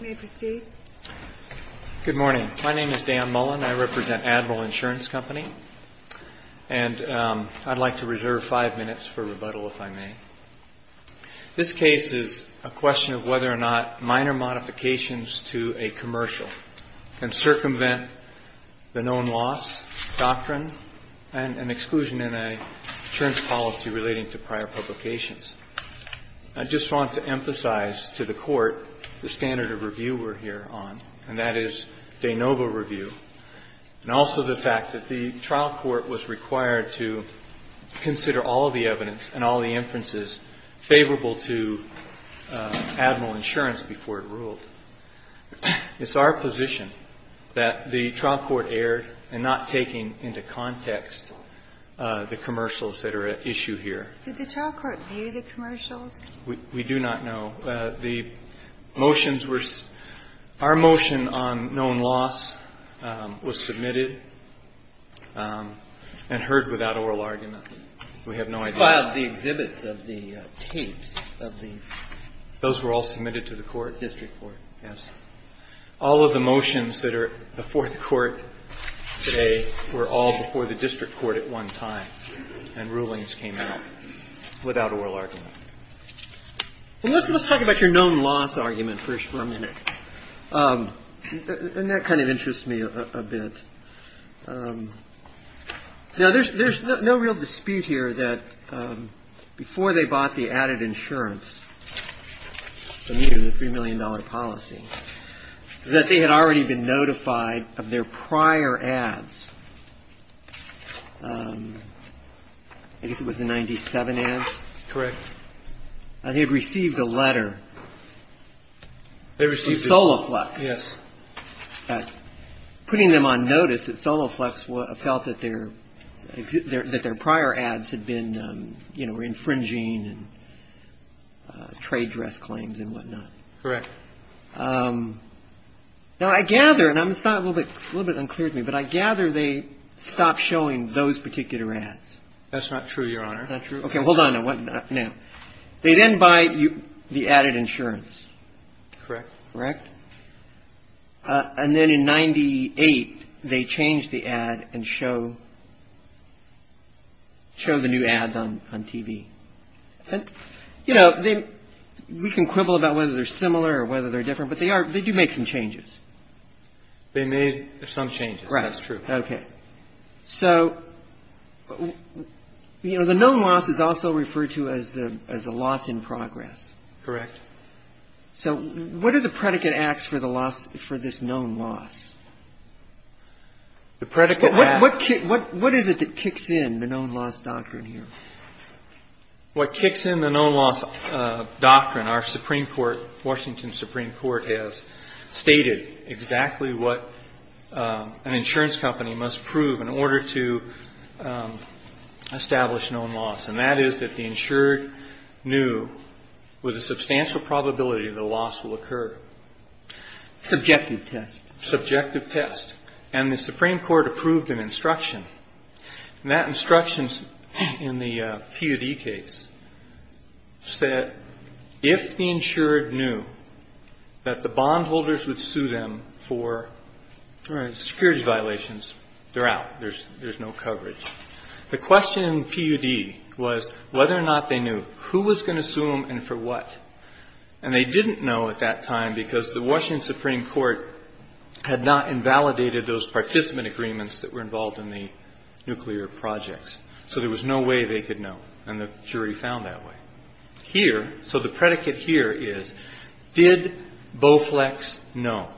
May I proceed? Good morning. My name is Dan Mullen. I represent Admiral Insurance Company. And I'd like to reserve five minutes for rebuttal, if I may. This case is a question of whether or not minor modifications to a commercial can circumvent the known loss doctrine and an exclusion in an insurance policy relating to prior publications. I just want to emphasize to the Court the standard of review we're here on, and that is de novo review, and also the fact that the trial court was required to consider all of the evidence and all the inferences favorable to Admiral Insurance before it ruled. It's our position that the trial court erred in not taking into context the commercials that are at issue here. Did the trial court view the commercials? We do not know. The motions were – our motion on known loss was submitted and heard without oral argument. We have no idea. You filed the exhibits of the tapes of the – Those were all submitted to the court. District court. Yes. All of the motions that are before the Court today were all before the district court at one time, and rulings came out without oral argument. Let's talk about your known loss argument first for a minute. And that kind of interests me a bit. Now, there's no real dispute here that before they bought the added insurance, the $3 million policy, that they had already been notified of their prior ads. I guess it was the 97 ads. Correct. And they had received a letter from Soloflex. Yes. Putting them on notice that Soloflex felt that their prior ads had been, you know, infringing and trade dress claims and whatnot. Correct. Now, I gather – and it's a little bit unclear to me, but I gather they stopped showing those particular ads. That's not true, Your Honor. Not true? Okay. Hold on. Now, they then buy the added insurance. Correct. Correct? And then in 98, they change the ad and show the new ads on TV. And, you know, we can quibble about whether they're similar or whether they're different, but they do make some changes. They made some changes. Right. That's true. Okay. So, you know, the known loss is also referred to as the loss in progress. Correct. So what are the predicate acts for the loss – for this known loss? The predicate acts – What is it that kicks in the known loss doctrine here? What kicks in the known loss doctrine, our Supreme Court, Washington Supreme Court, has stated exactly what an insurance company must prove in order to establish known loss. And that is that the insured knew with a substantial probability the loss will occur. Subjective test. Subjective test. And the Supreme Court approved an instruction. And that instruction in the PUD case said if the insured knew that the bondholders would sue them for security violations, they're out. There's no coverage. The question in the PUD was whether or not they knew who was going to sue them and for what. And they didn't know at that time because the Washington Supreme Court had not invalidated those participant agreements that were involved in the nuclear projects. So there was no way they could know. And the jury found that way. Here – so the predicate here is did Bowflex know?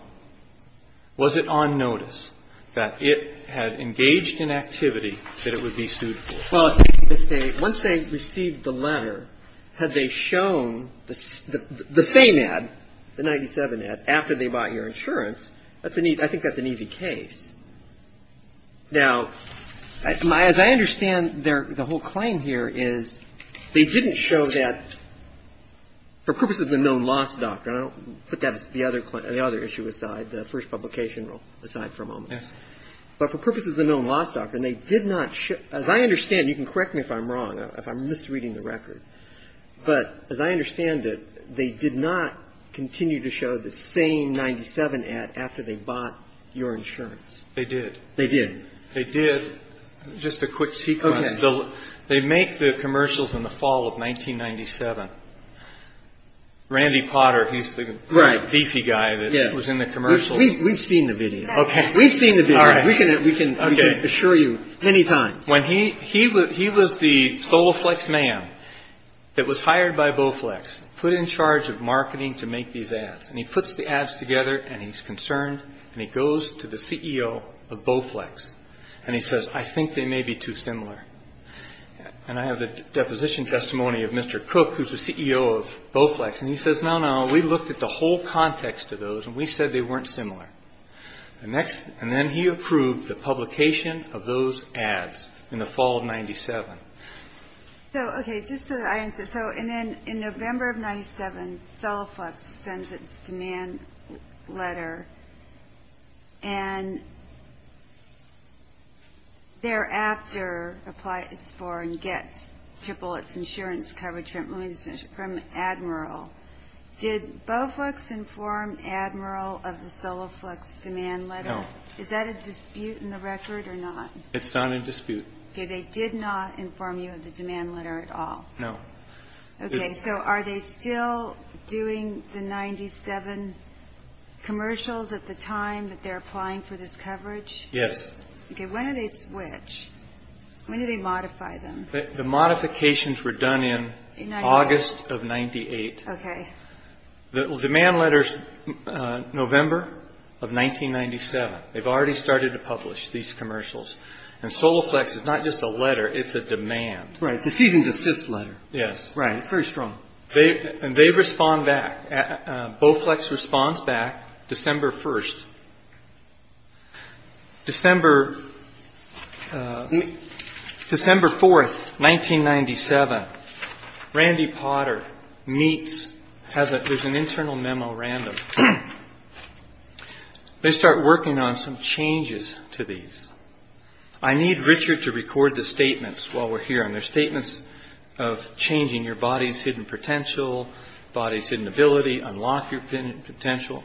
Was it on notice that it had engaged in activity that it would be sued for? Well, once they received the letter, had they shown the same ad, the 97 ad, after they bought your insurance, I think that's an easy case. Now, as I understand the whole claim here is they didn't show that for purposes of the known loss doctrine. I don't put the other issue aside, the first publication rule aside for a moment. Yes. But for purposes of the known loss doctrine, they did not show – as I understand it, you can correct me if I'm wrong, if I'm misreading the record. But as I understand it, they did not continue to show the same 97 ad after they bought your insurance. They did. They did. They did. Just a quick sequence. Okay. They make the commercials in the fall of 1997. Randy Potter, he's the beefy guy that was in the commercials. We've seen the video. Okay. We've seen the video. All right. We can assure you many times. When he – he was the Bowflex man that was hired by Bowflex, put in charge of marketing to make these ads. And he puts the ads together, and he's concerned, and he goes to the CEO of Bowflex, and he says, I think they may be too similar. And I have the deposition testimony of Mr. Cook, who's the CEO of Bowflex, and he says, no, no, we looked at the whole context of those, and we said they weren't similar. And next – and then he approved the publication of those ads in the fall of 97. So, okay, just so that I understand. So, and then in November of 97, Soloflux sends its demand letter, and thereafter applies for and gets triple its insurance coverage from Admiral. Did Bowflex inform Admiral of the Soloflux demand letter? No. Is that a dispute in the record or not? It's not a dispute. Okay. They did not inform you of the demand letter at all? No. Okay. So are they still doing the 97 commercials at the time that they're applying for this coverage? Yes. Okay. When do they switch? When do they modify them? The modifications were done in August of 98. Okay. The demand letter's November of 1997. They've already started to publish these commercials. And Soloflux is not just a letter, it's a demand. Right. This isn't just this letter. Yes. Right. Very strong. And they respond back. Bowflex responds back December 1st. December 4th, 1997, Randy Potter meets, there's an internal memo random. They start working on some changes to these. I need Richard to record the statements while we're here. And they're statements of changing your body's hidden potential, body's hidden ability, unlock your potential.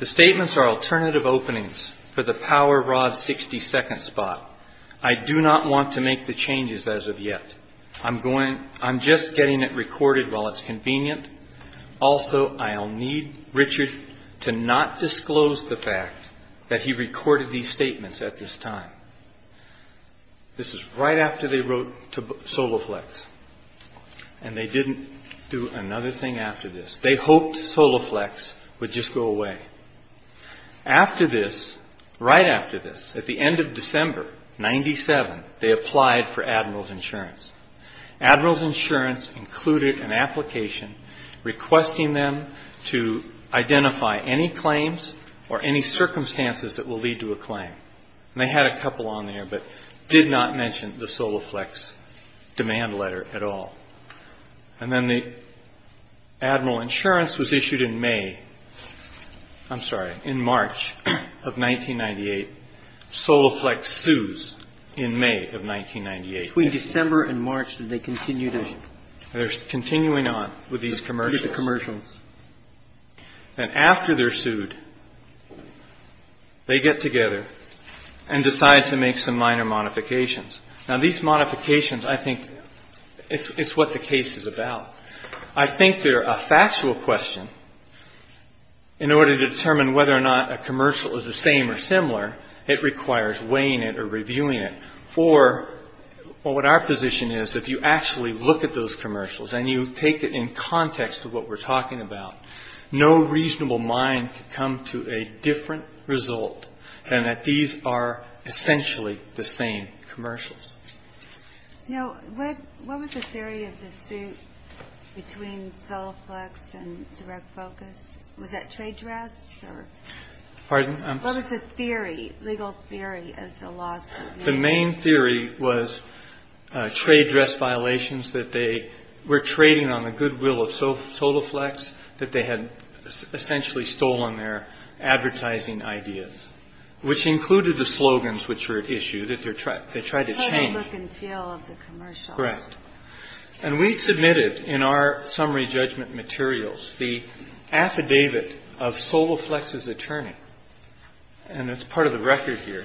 The statements are alternative openings for the Power Rod 60 second spot. I do not want to make the changes as of yet. I'm just getting it recorded while it's convenient. Also, I'll need Richard to not disclose the fact that he recorded these statements at this time. This is right after they wrote to Soloflux. And they didn't do another thing after this. They hoped Soloflux would just go away. After this, right after this, at the end of December, 97, they applied for Admiral's Insurance. Admiral's Insurance included an application requesting them to identify any claims or any circumstances that will lead to a claim. And they had a couple on there, but did not mention the Soloflux demand letter at all. And then the Admiral Insurance was issued in May, I'm sorry, in March of 1998. Soloflux sues in May of 1998. Between December and March, did they continue to? They're continuing on with these commercials. And after they're sued, they get together and decide to make some minor modifications. Now, these modifications, I think it's what the case is about. I think they're a factual question. In order to determine whether or not a commercial is the same or similar, it requires weighing it or reviewing it. For what our position is, if you actually look at those commercials and you take it in context of what we're talking about, no reasonable mind could come to a different result than that these are essentially the same commercials. Now, what was the theory of the suit between Soloflux and Direct Focus? Was that trade drafts? Pardon? What was the theory, legal theory, of the lawsuit? The main theory was trade draft violations, that they were trading on the goodwill of Soloflux, that they had essentially stolen their advertising ideas, which included the slogans which were issued, that they tried to change. They had no look and feel of the commercials. Correct. And we submitted in our summary judgment materials the affidavit of Soloflux's attorney. And it's part of the record here.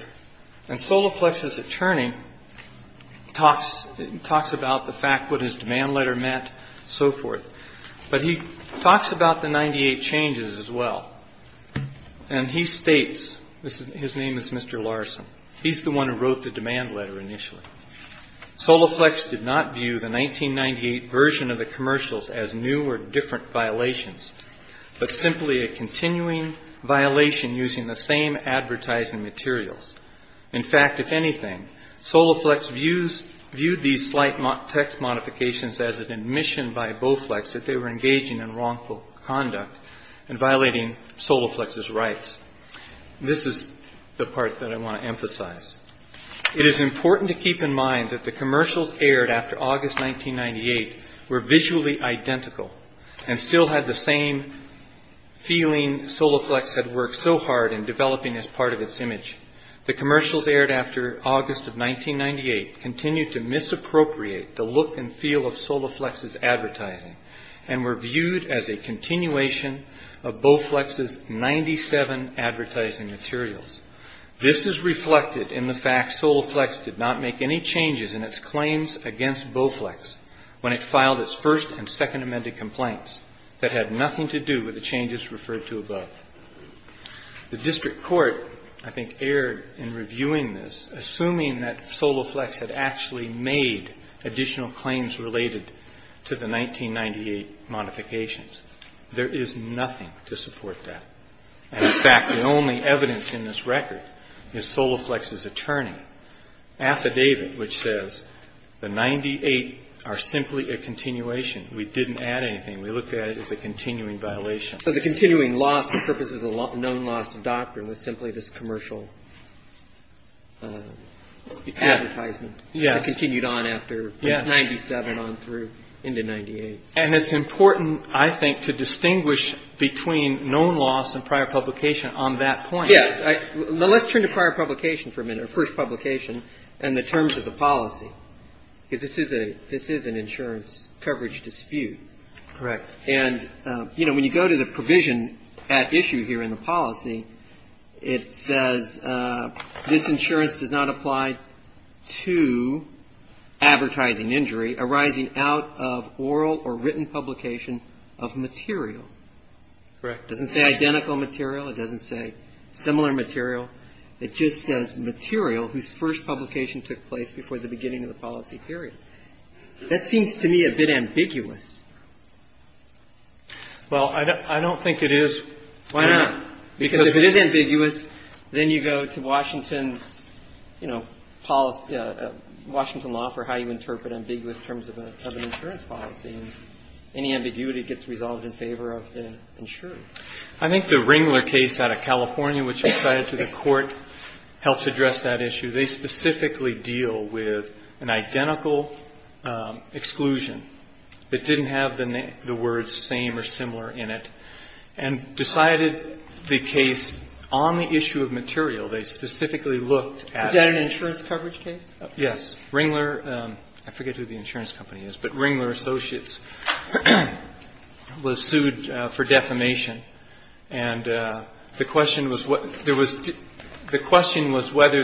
And Soloflux's attorney talks about the fact what his demand letter meant and so forth. But he talks about the 98 changes as well. And he states, his name is Mr. Larson, he's the one who wrote the demand letter initially. Soloflux did not view the 1998 version of the commercials as new or different violations, but simply a continuing violation using the same advertising materials. In fact, if anything, Soloflux viewed these slight text modifications as an admission by Bowflex that they were engaging in wrongful conduct and violating Soloflux's rights. This is the part that I want to emphasize. It is important to keep in mind that the commercials aired after August 1998 were visually identical and still had the same feeling Soloflux had worked so hard in developing as part of its image. The commercials aired after August of 1998 continued to misappropriate the look and feel of Soloflux's advertising and were viewed as a continuation of Bowflex's 97 advertising materials. This is reflected in the fact Soloflux did not make any changes in its claims against Bowflex when it filed its first and second amended complaints that had nothing to do with the changes referred to above. The district court, I think, erred in reviewing this, assuming that Soloflux had actually made additional claims related to the 1998 modifications. There is nothing to support that. In fact, the only evidence in this record is Soloflux's attorney affidavit, which says the 98 are simply a continuation. We didn't add anything. We looked at it as a continuing violation. So the continuing loss, the purpose of the known loss doctrine was simply this commercial advertisement. Yes. That continued on after 97 on through into 98. And it's important, I think, to distinguish between known loss and prior publication on that point. Yes. Let's turn to prior publication for a minute, or first publication, and the terms of the policy, because this is an insurance coverage dispute. Correct. And, you know, when you go to the provision at issue here in the policy, it says this insurance does not apply to advertising injury arising out of oral or written publication of material. Correct. It doesn't say identical material. It doesn't say similar material. It just says material whose first publication took place before the beginning of the policy period. That seems to me a bit ambiguous. Well, I don't think it is. Why not? Because if it is ambiguous, then you go to Washington's, you know, policy of Washington law for how you interpret ambiguous terms of an insurance policy, and any ambiguity gets resolved in favor of the insurer. I think the Ringler case out of California, which was cited to the Court, helps address that issue. They specifically deal with an identical exclusion. It didn't have the words same or similar in it, and decided the case on the issue of material. They specifically looked at it. Is that an insurance coverage case? Yes. Ringler — I forget who the insurance company is, but Ringler Associates was sued for defamation. And the question was whether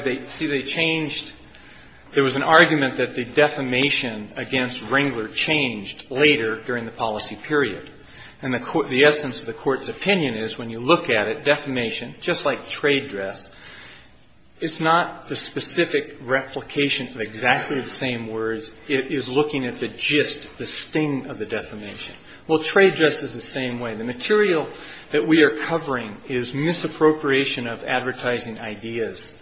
they — see, they changed — there was an argument that the defamation against Ringler changed later during the policy period. And the essence of the Court's opinion is when you look at it, defamation, just like trade dress, it's not the specific replication of exactly the same words. It is looking at the gist, the sting of the defamation. Well, trade dress is the same way. The material that we are covering is misappropriation of advertising ideas.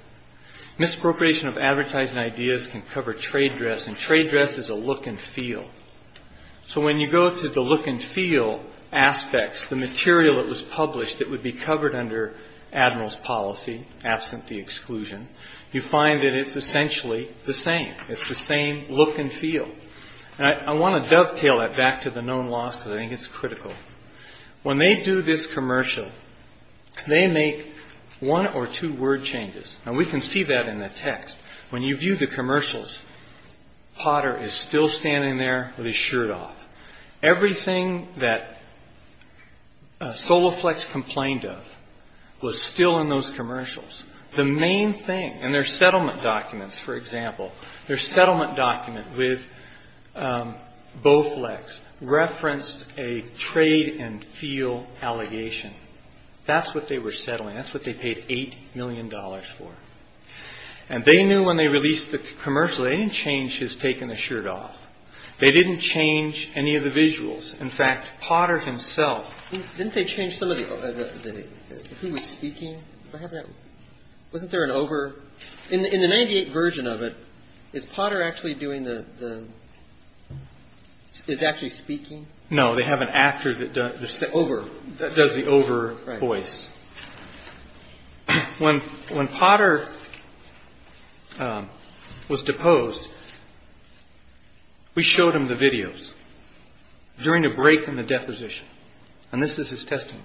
Misappropriation of advertising ideas can cover trade dress, and trade dress is a look and feel. So when you go to the look and feel aspects, the material that was published that would be covered under Admiral's policy, absent the exclusion, you find that it's essentially the same. It's the same look and feel. And I want to dovetail that back to the known laws because I think it's critical. When they do this commercial, they make one or two word changes. Now, we can see that in the text. When you view the commercials, Potter is still standing there with his shirt off. Everything that Soloflex complained of was still in those commercials. The main thing, in their settlement documents, for example, their settlement document with Bowflex referenced a trade and feel allegation. That's what they were settling. That's what they paid $8 million for. And they knew when they released the commercial, they didn't change his taking the shirt off. They didn't change any of the visuals. In fact, Potter himself. Didn't they change some of the – who was speaking? Wasn't there an over – in the 98 version of it, is Potter actually doing the – is actually speaking? No, they have an actor that does the over voice. When Potter was deposed, we showed him the videos during a break in the deposition. And this is his testimony.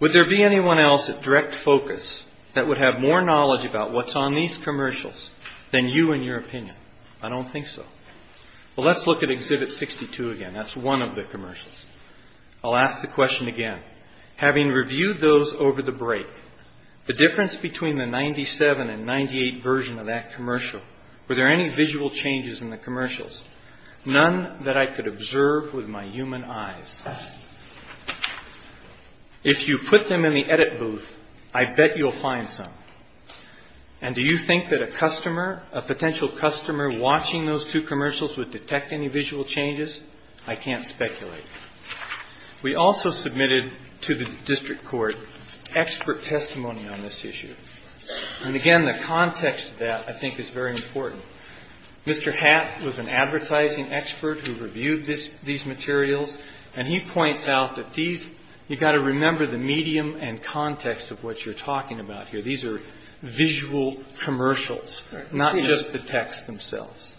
Would there be anyone else at direct focus that would have more knowledge about what's on these commercials than you and your opinion? I don't think so. Well, let's look at Exhibit 62 again. That's one of the commercials. I'll ask the question again. Having reviewed those over the break, the difference between the 97 and 98 version of that commercial, were there any visual changes in the commercials? None that I could observe with my human eyes. If you put them in the edit booth, I bet you'll find some. And do you think that a customer, a potential customer, watching those two commercials would detect any visual changes? I can't speculate. We also submitted to the district court expert testimony on this issue. And again, the context of that, I think, is very important. Mr. Hatt was an advertising expert who reviewed this – these materials, and he points out that these – you've got to remember the medium and context of what you're talking about here. These are visual commercials, not just the text themselves.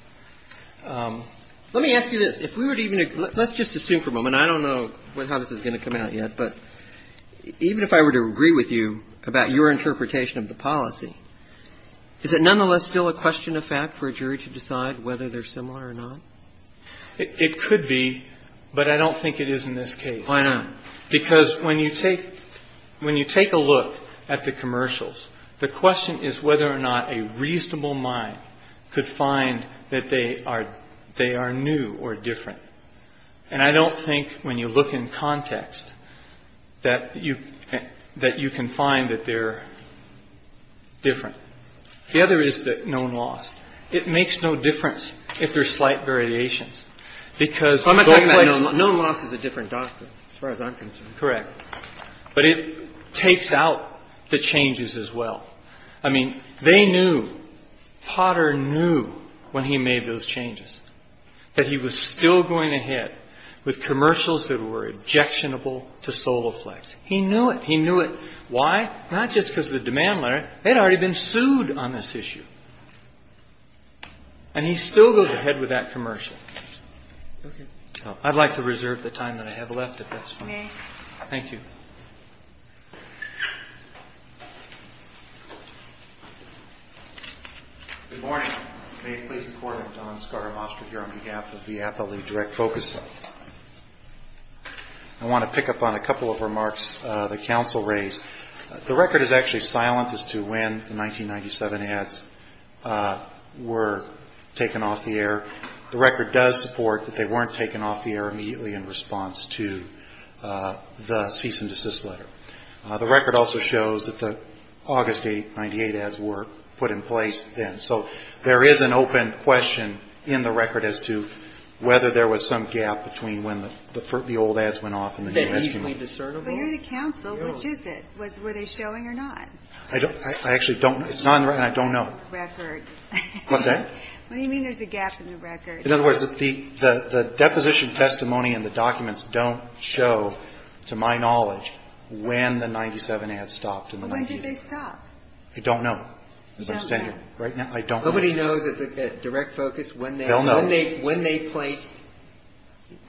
Let me ask you this. If we were to even – let's just assume for a moment. I don't know how this is going to come out yet. But even if I were to agree with you about your interpretation of the policy, is it nonetheless still a question of fact for a jury to decide whether they're similar or not? It could be, but I don't think it is in this case. Why not? Because when you take – when you take a look at the commercials, the question is whether or not a reasonable mind could find that they are new or different. And I don't think, when you look in context, that you can find that they're different. The other is known loss. It makes no difference if there's slight variations because – I'm not talking about – known loss is a different doctrine as far as I'm concerned. Correct. But it takes out the changes as well. I mean, they knew, Potter knew, when he made those changes, that he was still going ahead with commercials that were objectionable to Soloflex. He knew it. He knew it. Why? Not just because of the demand letter. They'd already been sued on this issue. And he still goes ahead with that commercial. Okay. I'd like to reserve the time that I have left if that's fine. Okay. Thank you. Good morning. May it please the Court, I'm Don Skarabostri here on behalf of the Athlete Direct Focus. I want to pick up on a couple of remarks the counsel raised. The record is actually silent as to when the 1997 ads were taken off the air. The record does support that they weren't taken off the air immediately in response to the cease and desist letter. The record also shows that the August 8, 1998 ads were put in place then. So there is an open question in the record as to whether there was some gap between when the old ads went off and the new ads came in. They're easily discernible. Well, you're the counsel. Which is it? Were they showing or not? I actually don't know. It's not on the record, and I don't know. Record. What's that? What do you mean there's a gap in the record? In other words, the deposition testimony and the documents don't show, to my knowledge, when the 1997 ads stopped in the 1990s. Well, when did they stop? I don't know. You don't know? Right now, I don't know. Nobody knows at the Direct Focus when they placed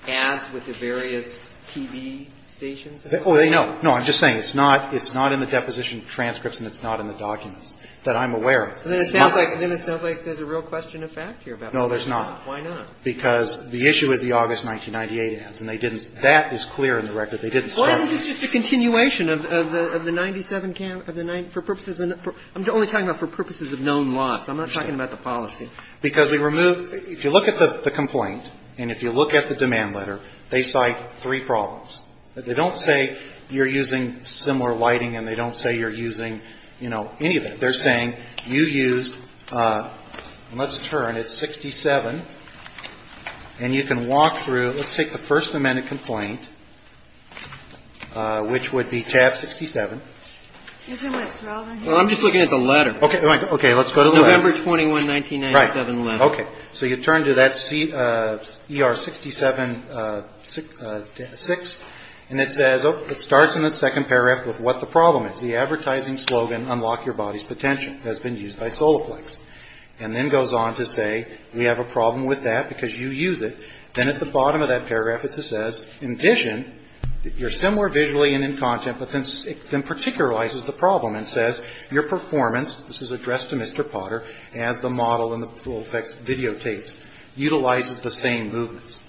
ads with the various TV stations? Oh, they know. No, I'm just saying it's not in the deposition transcripts and it's not in the documents that I'm aware of. Well, then it sounds like there's a real question of fact here about that. No, there's not. Why not? Because the issue is the August 1998 ads, and they didn't stop. That is clear in the record. They didn't stop. Well, isn't this just a continuation of the 97, for purposes of the 1997? I'm only talking about for purposes of known loss. I'm not talking about the policy. Because we removed the complaint. If you look at the complaint and if you look at the demand letter, they cite three problems. They don't say you're using similar lighting and they don't say you're using, you know, any of it. They're saying you used, and let's turn, it's 67, and you can walk through. Let's take the first amendment complaint, which would be tab 67. Well, I'm just looking at the letter. Okay. Let's go to the letter. November 21, 1997 letter. Right. Okay. So you turn to that ER 67-6, and it says, oh, it starts in the second paragraph with what the problem is. The advertising slogan, unlock your body's potential, has been used by Soloflex. And then goes on to say we have a problem with that because you use it. Then at the bottom of that paragraph it says, in addition, you're similar visually and in content, but then it then particularizes the problem and says your performance, this is addressed to Mr. Potter, as the model in the full effects videotapes, utilizes the same movements.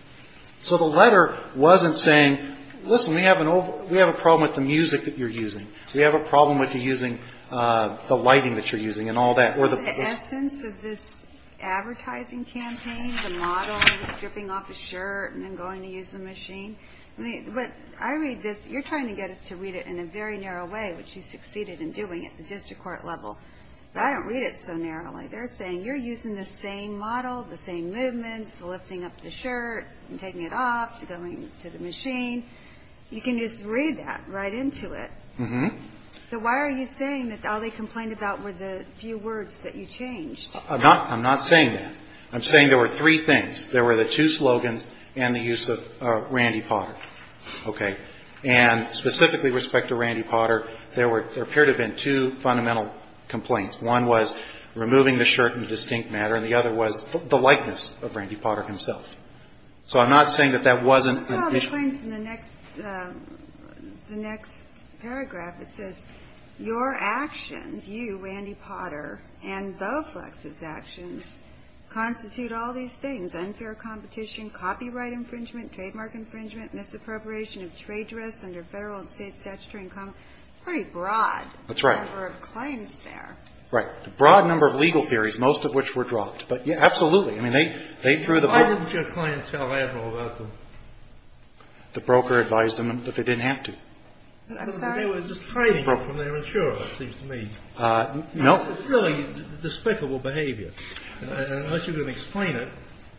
So the letter wasn't saying, listen, we have an old, we have a problem with the music that you're using. We have a problem with you using the lighting that you're using and all that. So the essence of this advertising campaign, the model, stripping off his shirt and then going to use the machine. I read this. You're trying to get us to read it in a very narrow way, which you succeeded in doing at the district court level. But I don't read it so narrowly. They're saying you're using the same model, the same movements, lifting up the shirt and taking it off, going to the machine. You can just read that right into it. So why are you saying that all they complained about were the few words that you changed? I'm not saying that. I'm saying there were three things. There were the two slogans and the use of Randy Potter. Okay. And specifically with respect to Randy Potter, there appeared to have been two fundamental complaints. One was removing the shirt in a distinct manner and the other was the likeness of Randy Potter himself. So I'm not saying that that wasn't an issue. The claims in the next paragraph, it says, your actions, you, Randy Potter, and Bowflex's actions constitute all these things. Unfair competition, copyright infringement, trademark infringement, misappropriation of trade dress under federal and state statutory income. Pretty broad. That's right. Number of claims there. Right. A broad number of legal theories, most of which were dropped. But, yeah, absolutely. I mean, they threw the book. Why didn't your clients tell Admiral about them? The broker advised them, but they didn't have to. I'm sorry? Because they were just trading from their insurer, it seems to me. No. It's really despicable behavior. Unless you're going to explain it,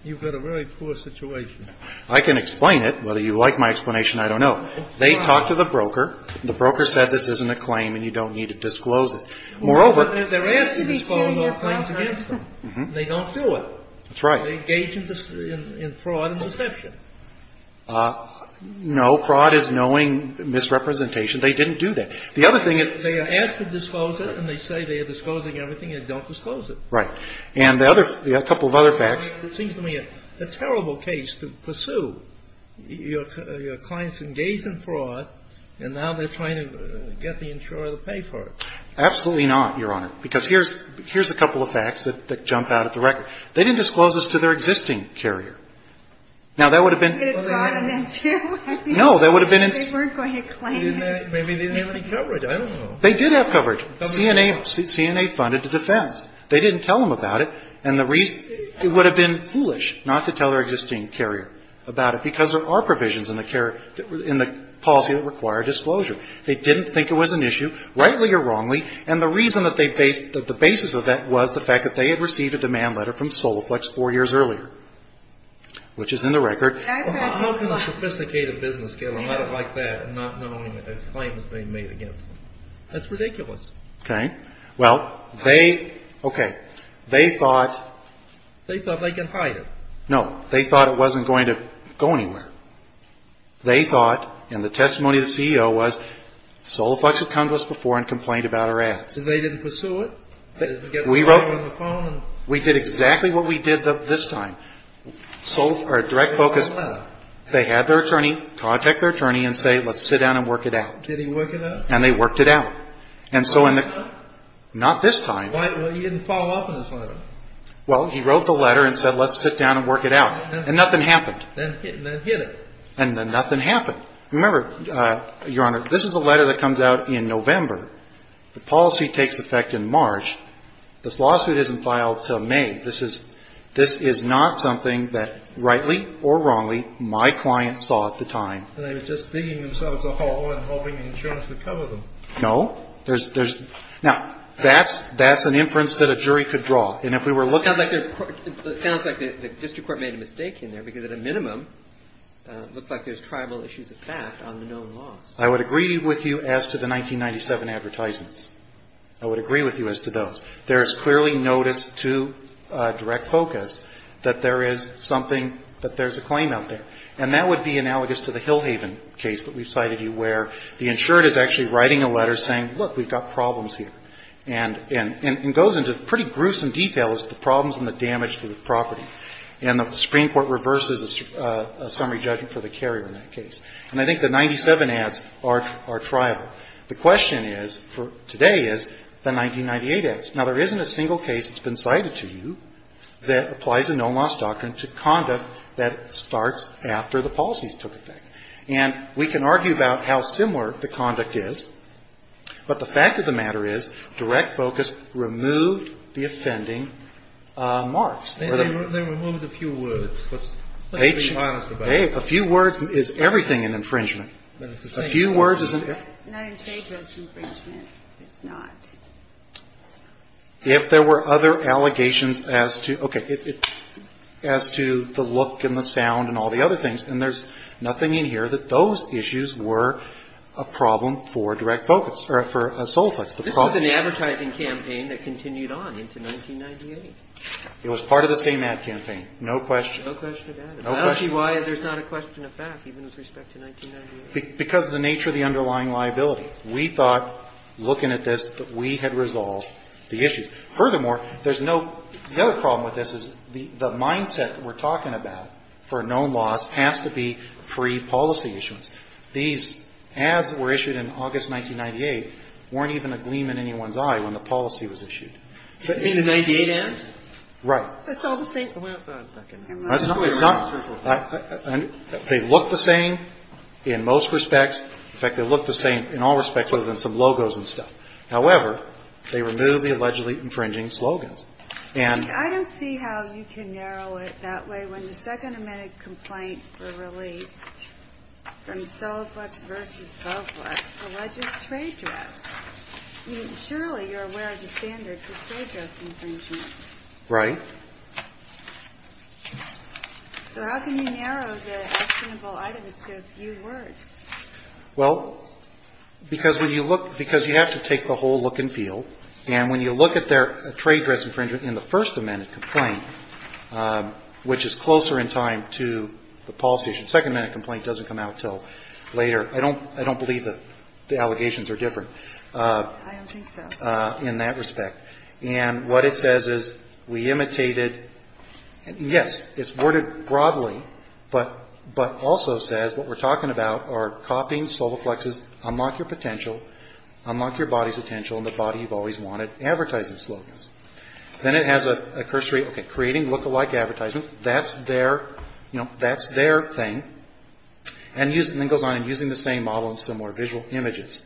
you've got a really poor situation. I can explain it. Whether you like my explanation, I don't know. They talked to the broker. The broker said this isn't a claim and you don't need to disclose it. Moreover, they're asking to disclose those claims against them. They don't do it. That's right. They engage in fraud and deception. No. Fraud is knowing misrepresentation. They didn't do that. The other thing is they are asked to disclose it and they say they are disclosing everything. They don't disclose it. Right. And a couple of other facts. It seems to me a terrible case to pursue. Your clients engaged in fraud, and now they're trying to get the insurer to pay for it. Absolutely not, Your Honor. Because here's a couple of facts that jump out at the record. They didn't disclose this to their existing carrier. Now, that would have been no. That would have been. They weren't going to claim it. Maybe they didn't have any coverage. I don't know. They did have coverage. CNA funded the defense. They didn't tell them about it. And the reason it would have been foolish not to tell their existing carrier about it because there are provisions in the policy that require disclosure. They didn't think it was an issue, rightly or wrongly. And the reason that the basis of that was the fact that they had received a demand letter from Soloflex four years earlier, which is in the record. How can a sophisticated business get a letter like that and not knowing that a claim has been made against them? That's ridiculous. Okay. Well, they, okay. They thought. They thought they could hide it. No. They thought it wasn't going to go anywhere. They thought, and the testimony of the CEO was, Soloflex had come to us before and complained about our ads. And they didn't pursue it? We wrote. We did exactly what we did this time. Our direct focus. They had their attorney contact their attorney and say, let's sit down and work it out. Did he work it out? And they worked it out. And so in the. Not this time. Well, he didn't follow up on this letter. Well, he wrote the letter and said, let's sit down and work it out. And nothing happened. Then hit it. And then nothing happened. Remember, Your Honor, this is a letter that comes out in November. The policy takes effect in March. This lawsuit isn't filed until May. This is not something that, rightly or wrongly, my client saw at the time. And they were just digging themselves a hole and hoping the insurance would cover them. No. There's. Now, that's an inference that a jury could draw. And if we were looking. It sounds like the district court made a mistake in there, because at a minimum, it looks like there's tribal issues of fact on the known laws. I would agree with you as to the 1997 advertisements. I would agree with you as to those. There is clearly notice to direct focus that there is something that there's a claim out there. And that would be analogous to the Hillhaven case that we cited you where the insured is actually writing a letter saying, look, we've got problems here. And it goes into pretty gruesome detail as to the problems and the damage to the property. And the Supreme Court reverses a summary judgment for the carrier in that case. And I think the 1997 ads are tribal. The question is, for today, is the 1998 ads. Now, there isn't a single case that's been cited to you that applies a known loss doctrine to conduct that starts after the policies took effect. And we can argue about how similar the conduct is. But the fact of the matter is direct focus removed the offending marks. They removed a few words. Let's be honest about it. A few words is everything in infringement. It's not infringement. It's not. If there were other allegations as to, okay, as to the look and the sound and all the other things. And there's nothing in here that those issues were a problem for direct focus or for a sole fix. This was an advertising campaign that continued on into 1998. It was part of the same ad campaign. No question. No question of that. I don't see why there's not a question of fact, even with respect to 1998. Because of the nature of the underlying liability. We thought, looking at this, that we had resolved the issue. Furthermore, there's no other problem with this is the mindset that we're talking about for a known loss has to be pre-policy issuance. These ads that were issued in August 1998 weren't even a gleam in anyone's eye when the policy was issued. In the 98 ads? Right. It's all the same. It's not. They look the same in most respects. In fact, they look the same in all respects other than some logos and stuff. However, they remove the allegedly infringing slogans. And I don't see how you can narrow it that way. When the second amended complaint for relief from Soliflex v. Govlex alleges trade dress, surely you're aware of the standard for trade dress infringement. Right. So how can you narrow the actionable items to a few words? Well, because when you look you have to take the whole look and feel. And when you look at their trade dress infringement in the first amended complaint, which is closer in time to the policy issue. The second amended complaint doesn't come out until later. I don't believe the allegations are different. I don't think so. In that respect. And what it says is we imitated. Yes, it's worded broadly, but also says what we're talking about are copying Soliflex's unlock your potential, unlock your body's potential and the body you've always wanted advertising slogans. Then it has a cursory, okay, creating lookalike advertisements. That's their, you know, that's their thing. And then it goes on in using the same model and similar visual images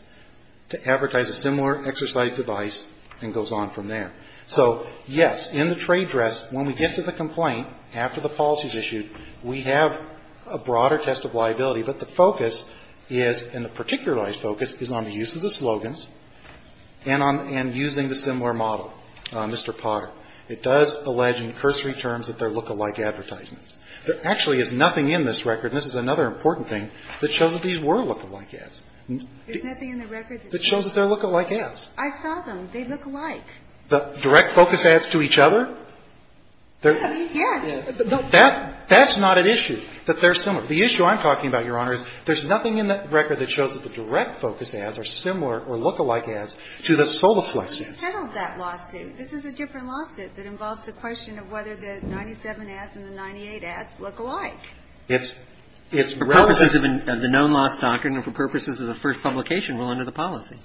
to advertise a similar exercise device and goes on from there. So, yes, in the trade dress, when we get to the complaint after the policy is issued, we have a broader test of liability. But the focus is, and the particularized focus is on the use of the slogans and on and using the similar model, Mr. Potter. It does allege in cursory terms that they're lookalike advertisements. There actually is nothing in this record, and this is another important thing, that shows that these were lookalike ads. There's nothing in the record that shows that they're lookalike ads. I saw them. They look alike. The direct focus ads to each other? Yes. Yes. No, that's not an issue, that they're similar. The issue I'm talking about, Your Honor, is there's nothing in that record that shows that the direct focus ads are similar or lookalike ads to the Solaflex ads. But you settled that lawsuit. This is a different lawsuit that involves the question of whether the 97 ads and the 98 ads look alike. It's relevant. For purposes of the known loss doctrine and for purposes of the first publication, we're under the policy.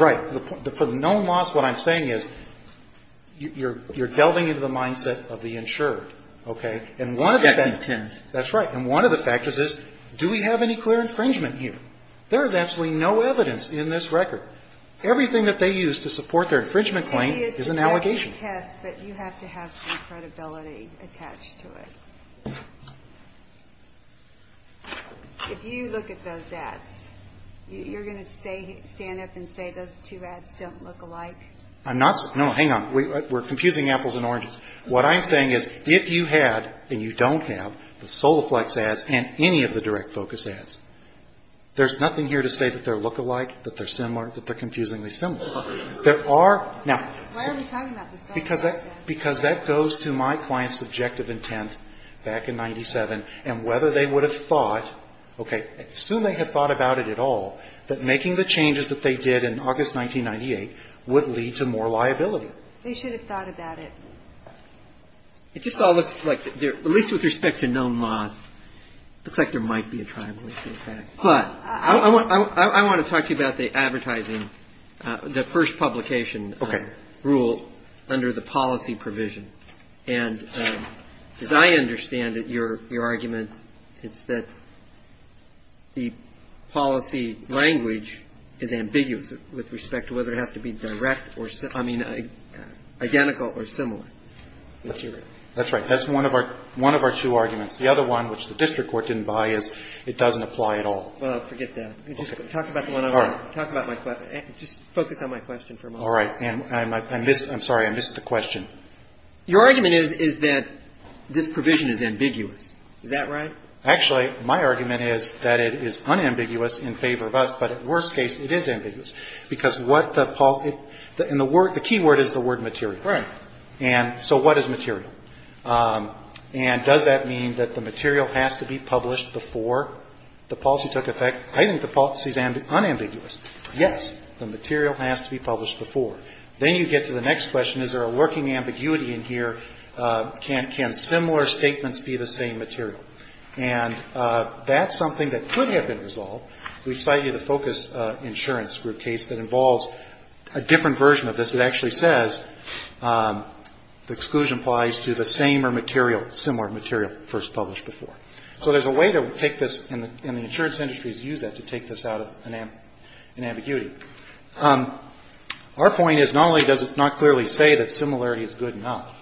Right. For the known loss, what I'm saying is you're delving into the mindset of the insured, okay? Objective intent. That's right. And one of the factors is do we have any clear infringement here? There is absolutely no evidence in this record. Everything that they use to support their infringement claim is an allegation. But you have to have some credibility attached to it. If you look at those ads, you're going to stand up and say those two ads don't look alike? No, hang on. We're confusing apples and oranges. What I'm saying is if you had and you don't have the Solaflex ads and any of the direct focus ads, there's nothing here to say that they're lookalike, that they're similar, that they're confusingly similar. Why are we talking about the Solaflex ads? Because that goes to my client's subjective intent back in 97 and whether they would have thought, okay, assume they had thought about it at all, that making the changes that they did in August 1998 would lead to more liability. They should have thought about it. It just all looks like, at least with respect to known loss, looks like there might be a tribulation effect. But I want to talk to you about the advertising, the first publication rule under the policy provision. And as I understand it, your argument is that the policy language is ambiguous with respect to whether it has to be direct or simple. I mean, identical or similar. That's right. That's one of our two arguments. The other one, which the district court didn't buy, is it doesn't apply at all. Well, forget that. Talk about the one I want. All right. Talk about my question. Just focus on my question for a moment. All right. And I'm sorry. I missed the question. Your argument is that this provision is ambiguous. Is that right? Actually, my argument is that it is unambiguous in favor of us, but at worst case, it is ambiguous. Because what the key word is the word material. Right. And so what is material? And does that mean that the material has to be published before the policy took effect? I think the policy is unambiguous. Yes. The material has to be published before. Then you get to the next question. Is there a lurking ambiguity in here? Can similar statements be the same material? And that's something that could have been resolved. We cite you the focus insurance group case that involves a different version of this that actually says the exclusion applies to the same or similar material first published before. So there's a way to take this, and the insurance industries use that to take this out of an ambiguity. Our point is not only does it not clearly say that similarity is good enough,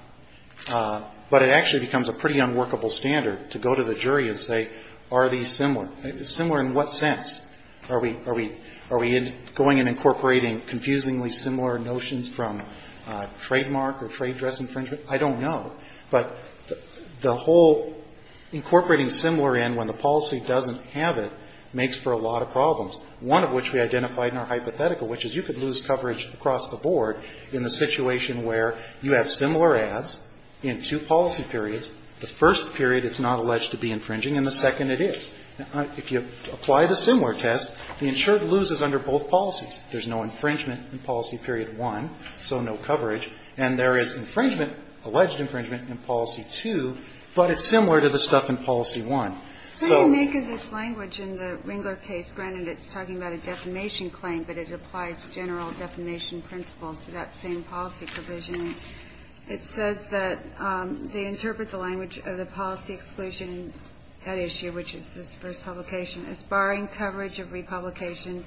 but it actually becomes a pretty unworkable standard to go to the jury and say, are these similar? Similar in what sense? Are we going and incorporating confusingly similar notions from trademark or trade dress infringement? I don't know. But the whole incorporating similar in when the policy doesn't have it makes for a lot of problems, one of which we identified in our hypothetical, which is you could lose coverage across the board in the situation where you have similar ads in two policy periods. The first period it's not alleged to be infringing, and the second it is. Now, if you apply the similar test, the insured loses under both policies. There's no infringement in policy period one, so no coverage. And there is infringement, alleged infringement, in policy two, but it's similar to the stuff in policy one. So you make of this language in the Ringler case, granted it's talking about a defamation claim, but it applies general defamation principles to that same policy provision. It says that they interpret the language of the policy exclusion head issue, which is this first publication, as barring coverage of republication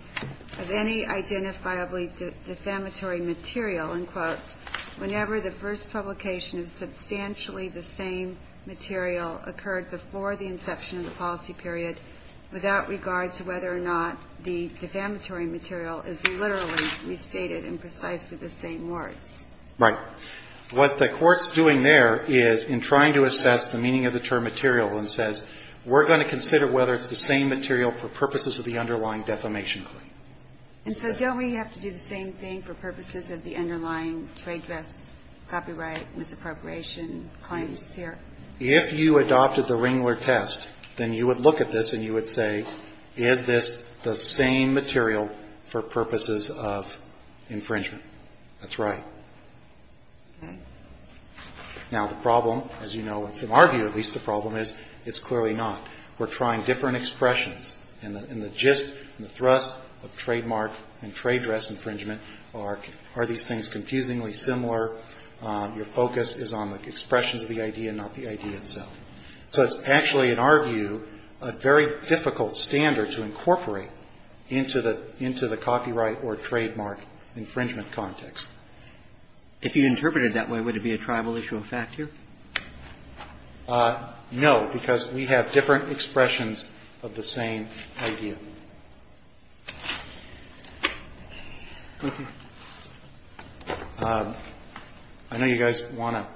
of any identifiably defamatory material, and quotes, whenever the first publication of substantially the same material occurred before the inception of the policy period, without regard to whether or not the defamatory material is literally restated in precisely the same words. Right. What the Court's doing there is in trying to assess the meaning of the term material and says, we're going to consider whether it's the same material for purposes of the underlying defamation claim. And so don't we have to do the same thing for purposes of the underlying trade dress, copyright, misappropriation claims here? If you adopted the Ringler test, then you would look at this and you would say, is this the same material for purposes of infringement? That's right. Now, the problem, as you know, from our view at least, the problem is it's clearly not. We're trying different expressions. And the gist and the thrust of trademark and trade dress infringement are these things confusingly similar. Your focus is on the expressions of the idea, not the idea itself. So it's actually, in our view, a very difficult standard to incorporate into the copyright or trademark infringement context. If you interpreted it that way, would it be a tribal issue of fact here? No, because we have different expressions of the same idea. Thank you. I know you guys want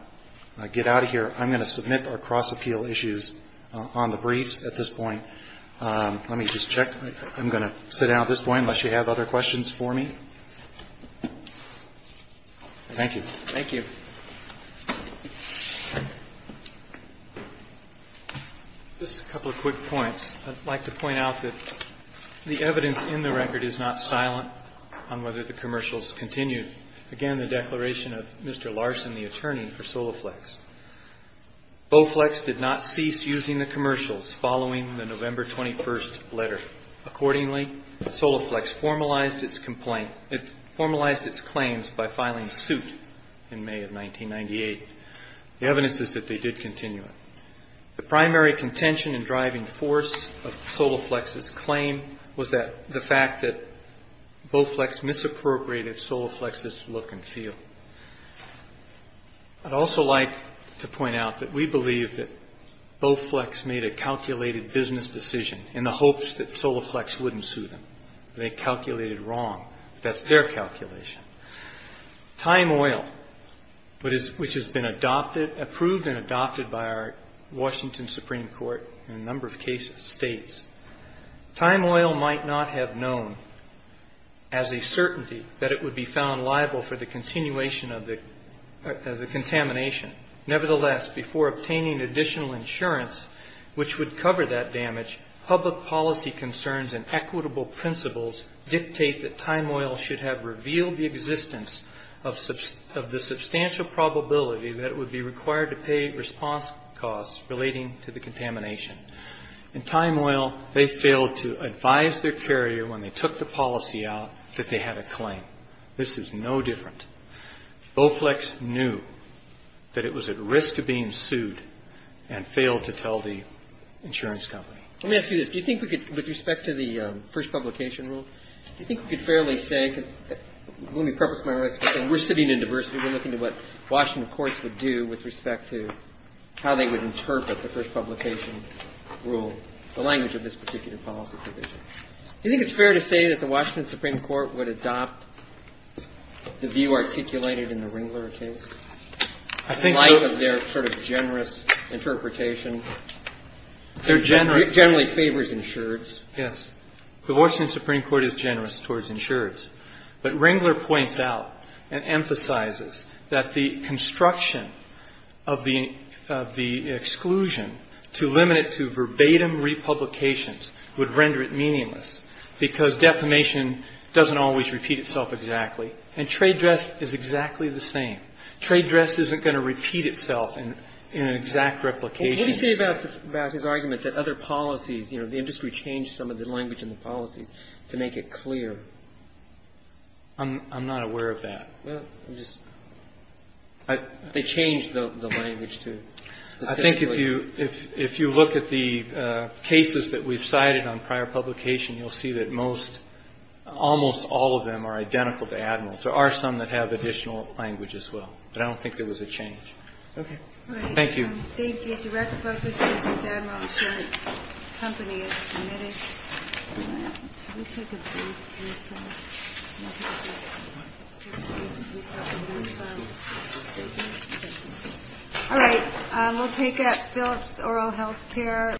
to get out of here. I'm going to submit our cross-appeal issues on the briefs at this point. Let me just check. I'm going to sit down at this point unless you have other questions for me. Thank you. Thank you. Just a couple of quick points. I'd like to point out that the evidence in the record is not silent on whether the commercials continued. Again, the declaration of Mr. Larson, the attorney for Soloflex. Boflex did not cease using the commercials following the November 21st letter. Accordingly, Soloflex formalized its claims by filing suit in May of 1998. The evidence is that they did continue it. The primary contention and driving force of Soloflex's claim was the fact that Boflex misappropriated Soloflex's look and feel. I'd also like to point out that we believe that Boflex made a calculated business decision in the hopes that Soloflex wouldn't sue them. They calculated wrong. That's their calculation. Time Oil, which has been approved and adopted by our Washington Supreme Court in a number of cases, Time Oil might not have known as a certainty that it would be found liable for the continuation of the contamination. Nevertheless, before obtaining additional insurance which would cover that damage, public policy concerns and equitable principles dictate that Time Oil should have revealed the existence of the substantial probability that it would be required to pay response costs relating to the contamination. In Time Oil, they failed to advise their carrier when they took the policy out that they had a claim. This is no different. Boflex knew that it was at risk of being sued and failed to tell the insurance company. Let me ask you this. Do you think we could, with respect to the first publication rule, do you think we could fairly say, because let me preface my answer by saying we're sitting in diversity. We're looking at what Washington courts would do with respect to how they would interpret the first publication rule, the language of this particular policy provision. Do you think it's fair to say that the Washington Supreme Court would adopt the view articulated in the Ringler case? In light of their sort of generous interpretation. It generally favors insureds. Yes. The Washington Supreme Court is generous towards insureds. But Ringler points out and emphasizes that the construction of the exclusion to limit it to verbatim republications would render it meaningless because defamation doesn't always repeat itself exactly. And trade dress is exactly the same. Trade dress isn't going to repeat itself in an exact replication. What do you say about his argument that other policies, you know, the industry changed some of the language in the policies to make it clear? I'm not aware of that. They changed the language to specifically. I think if you look at the cases that we've cited on prior publication, you'll see that most, almost all of them are identical to Admiral's. There are some that have additional language as well. But I don't think there was a change. Okay. Thank you. Thank you. Direct focus is Admiral Sherriff's company. Should we take a brief recess? We'll take a brief recess and move on. Thank you. Thank you. All right. We'll take a Philips Oral Health Care.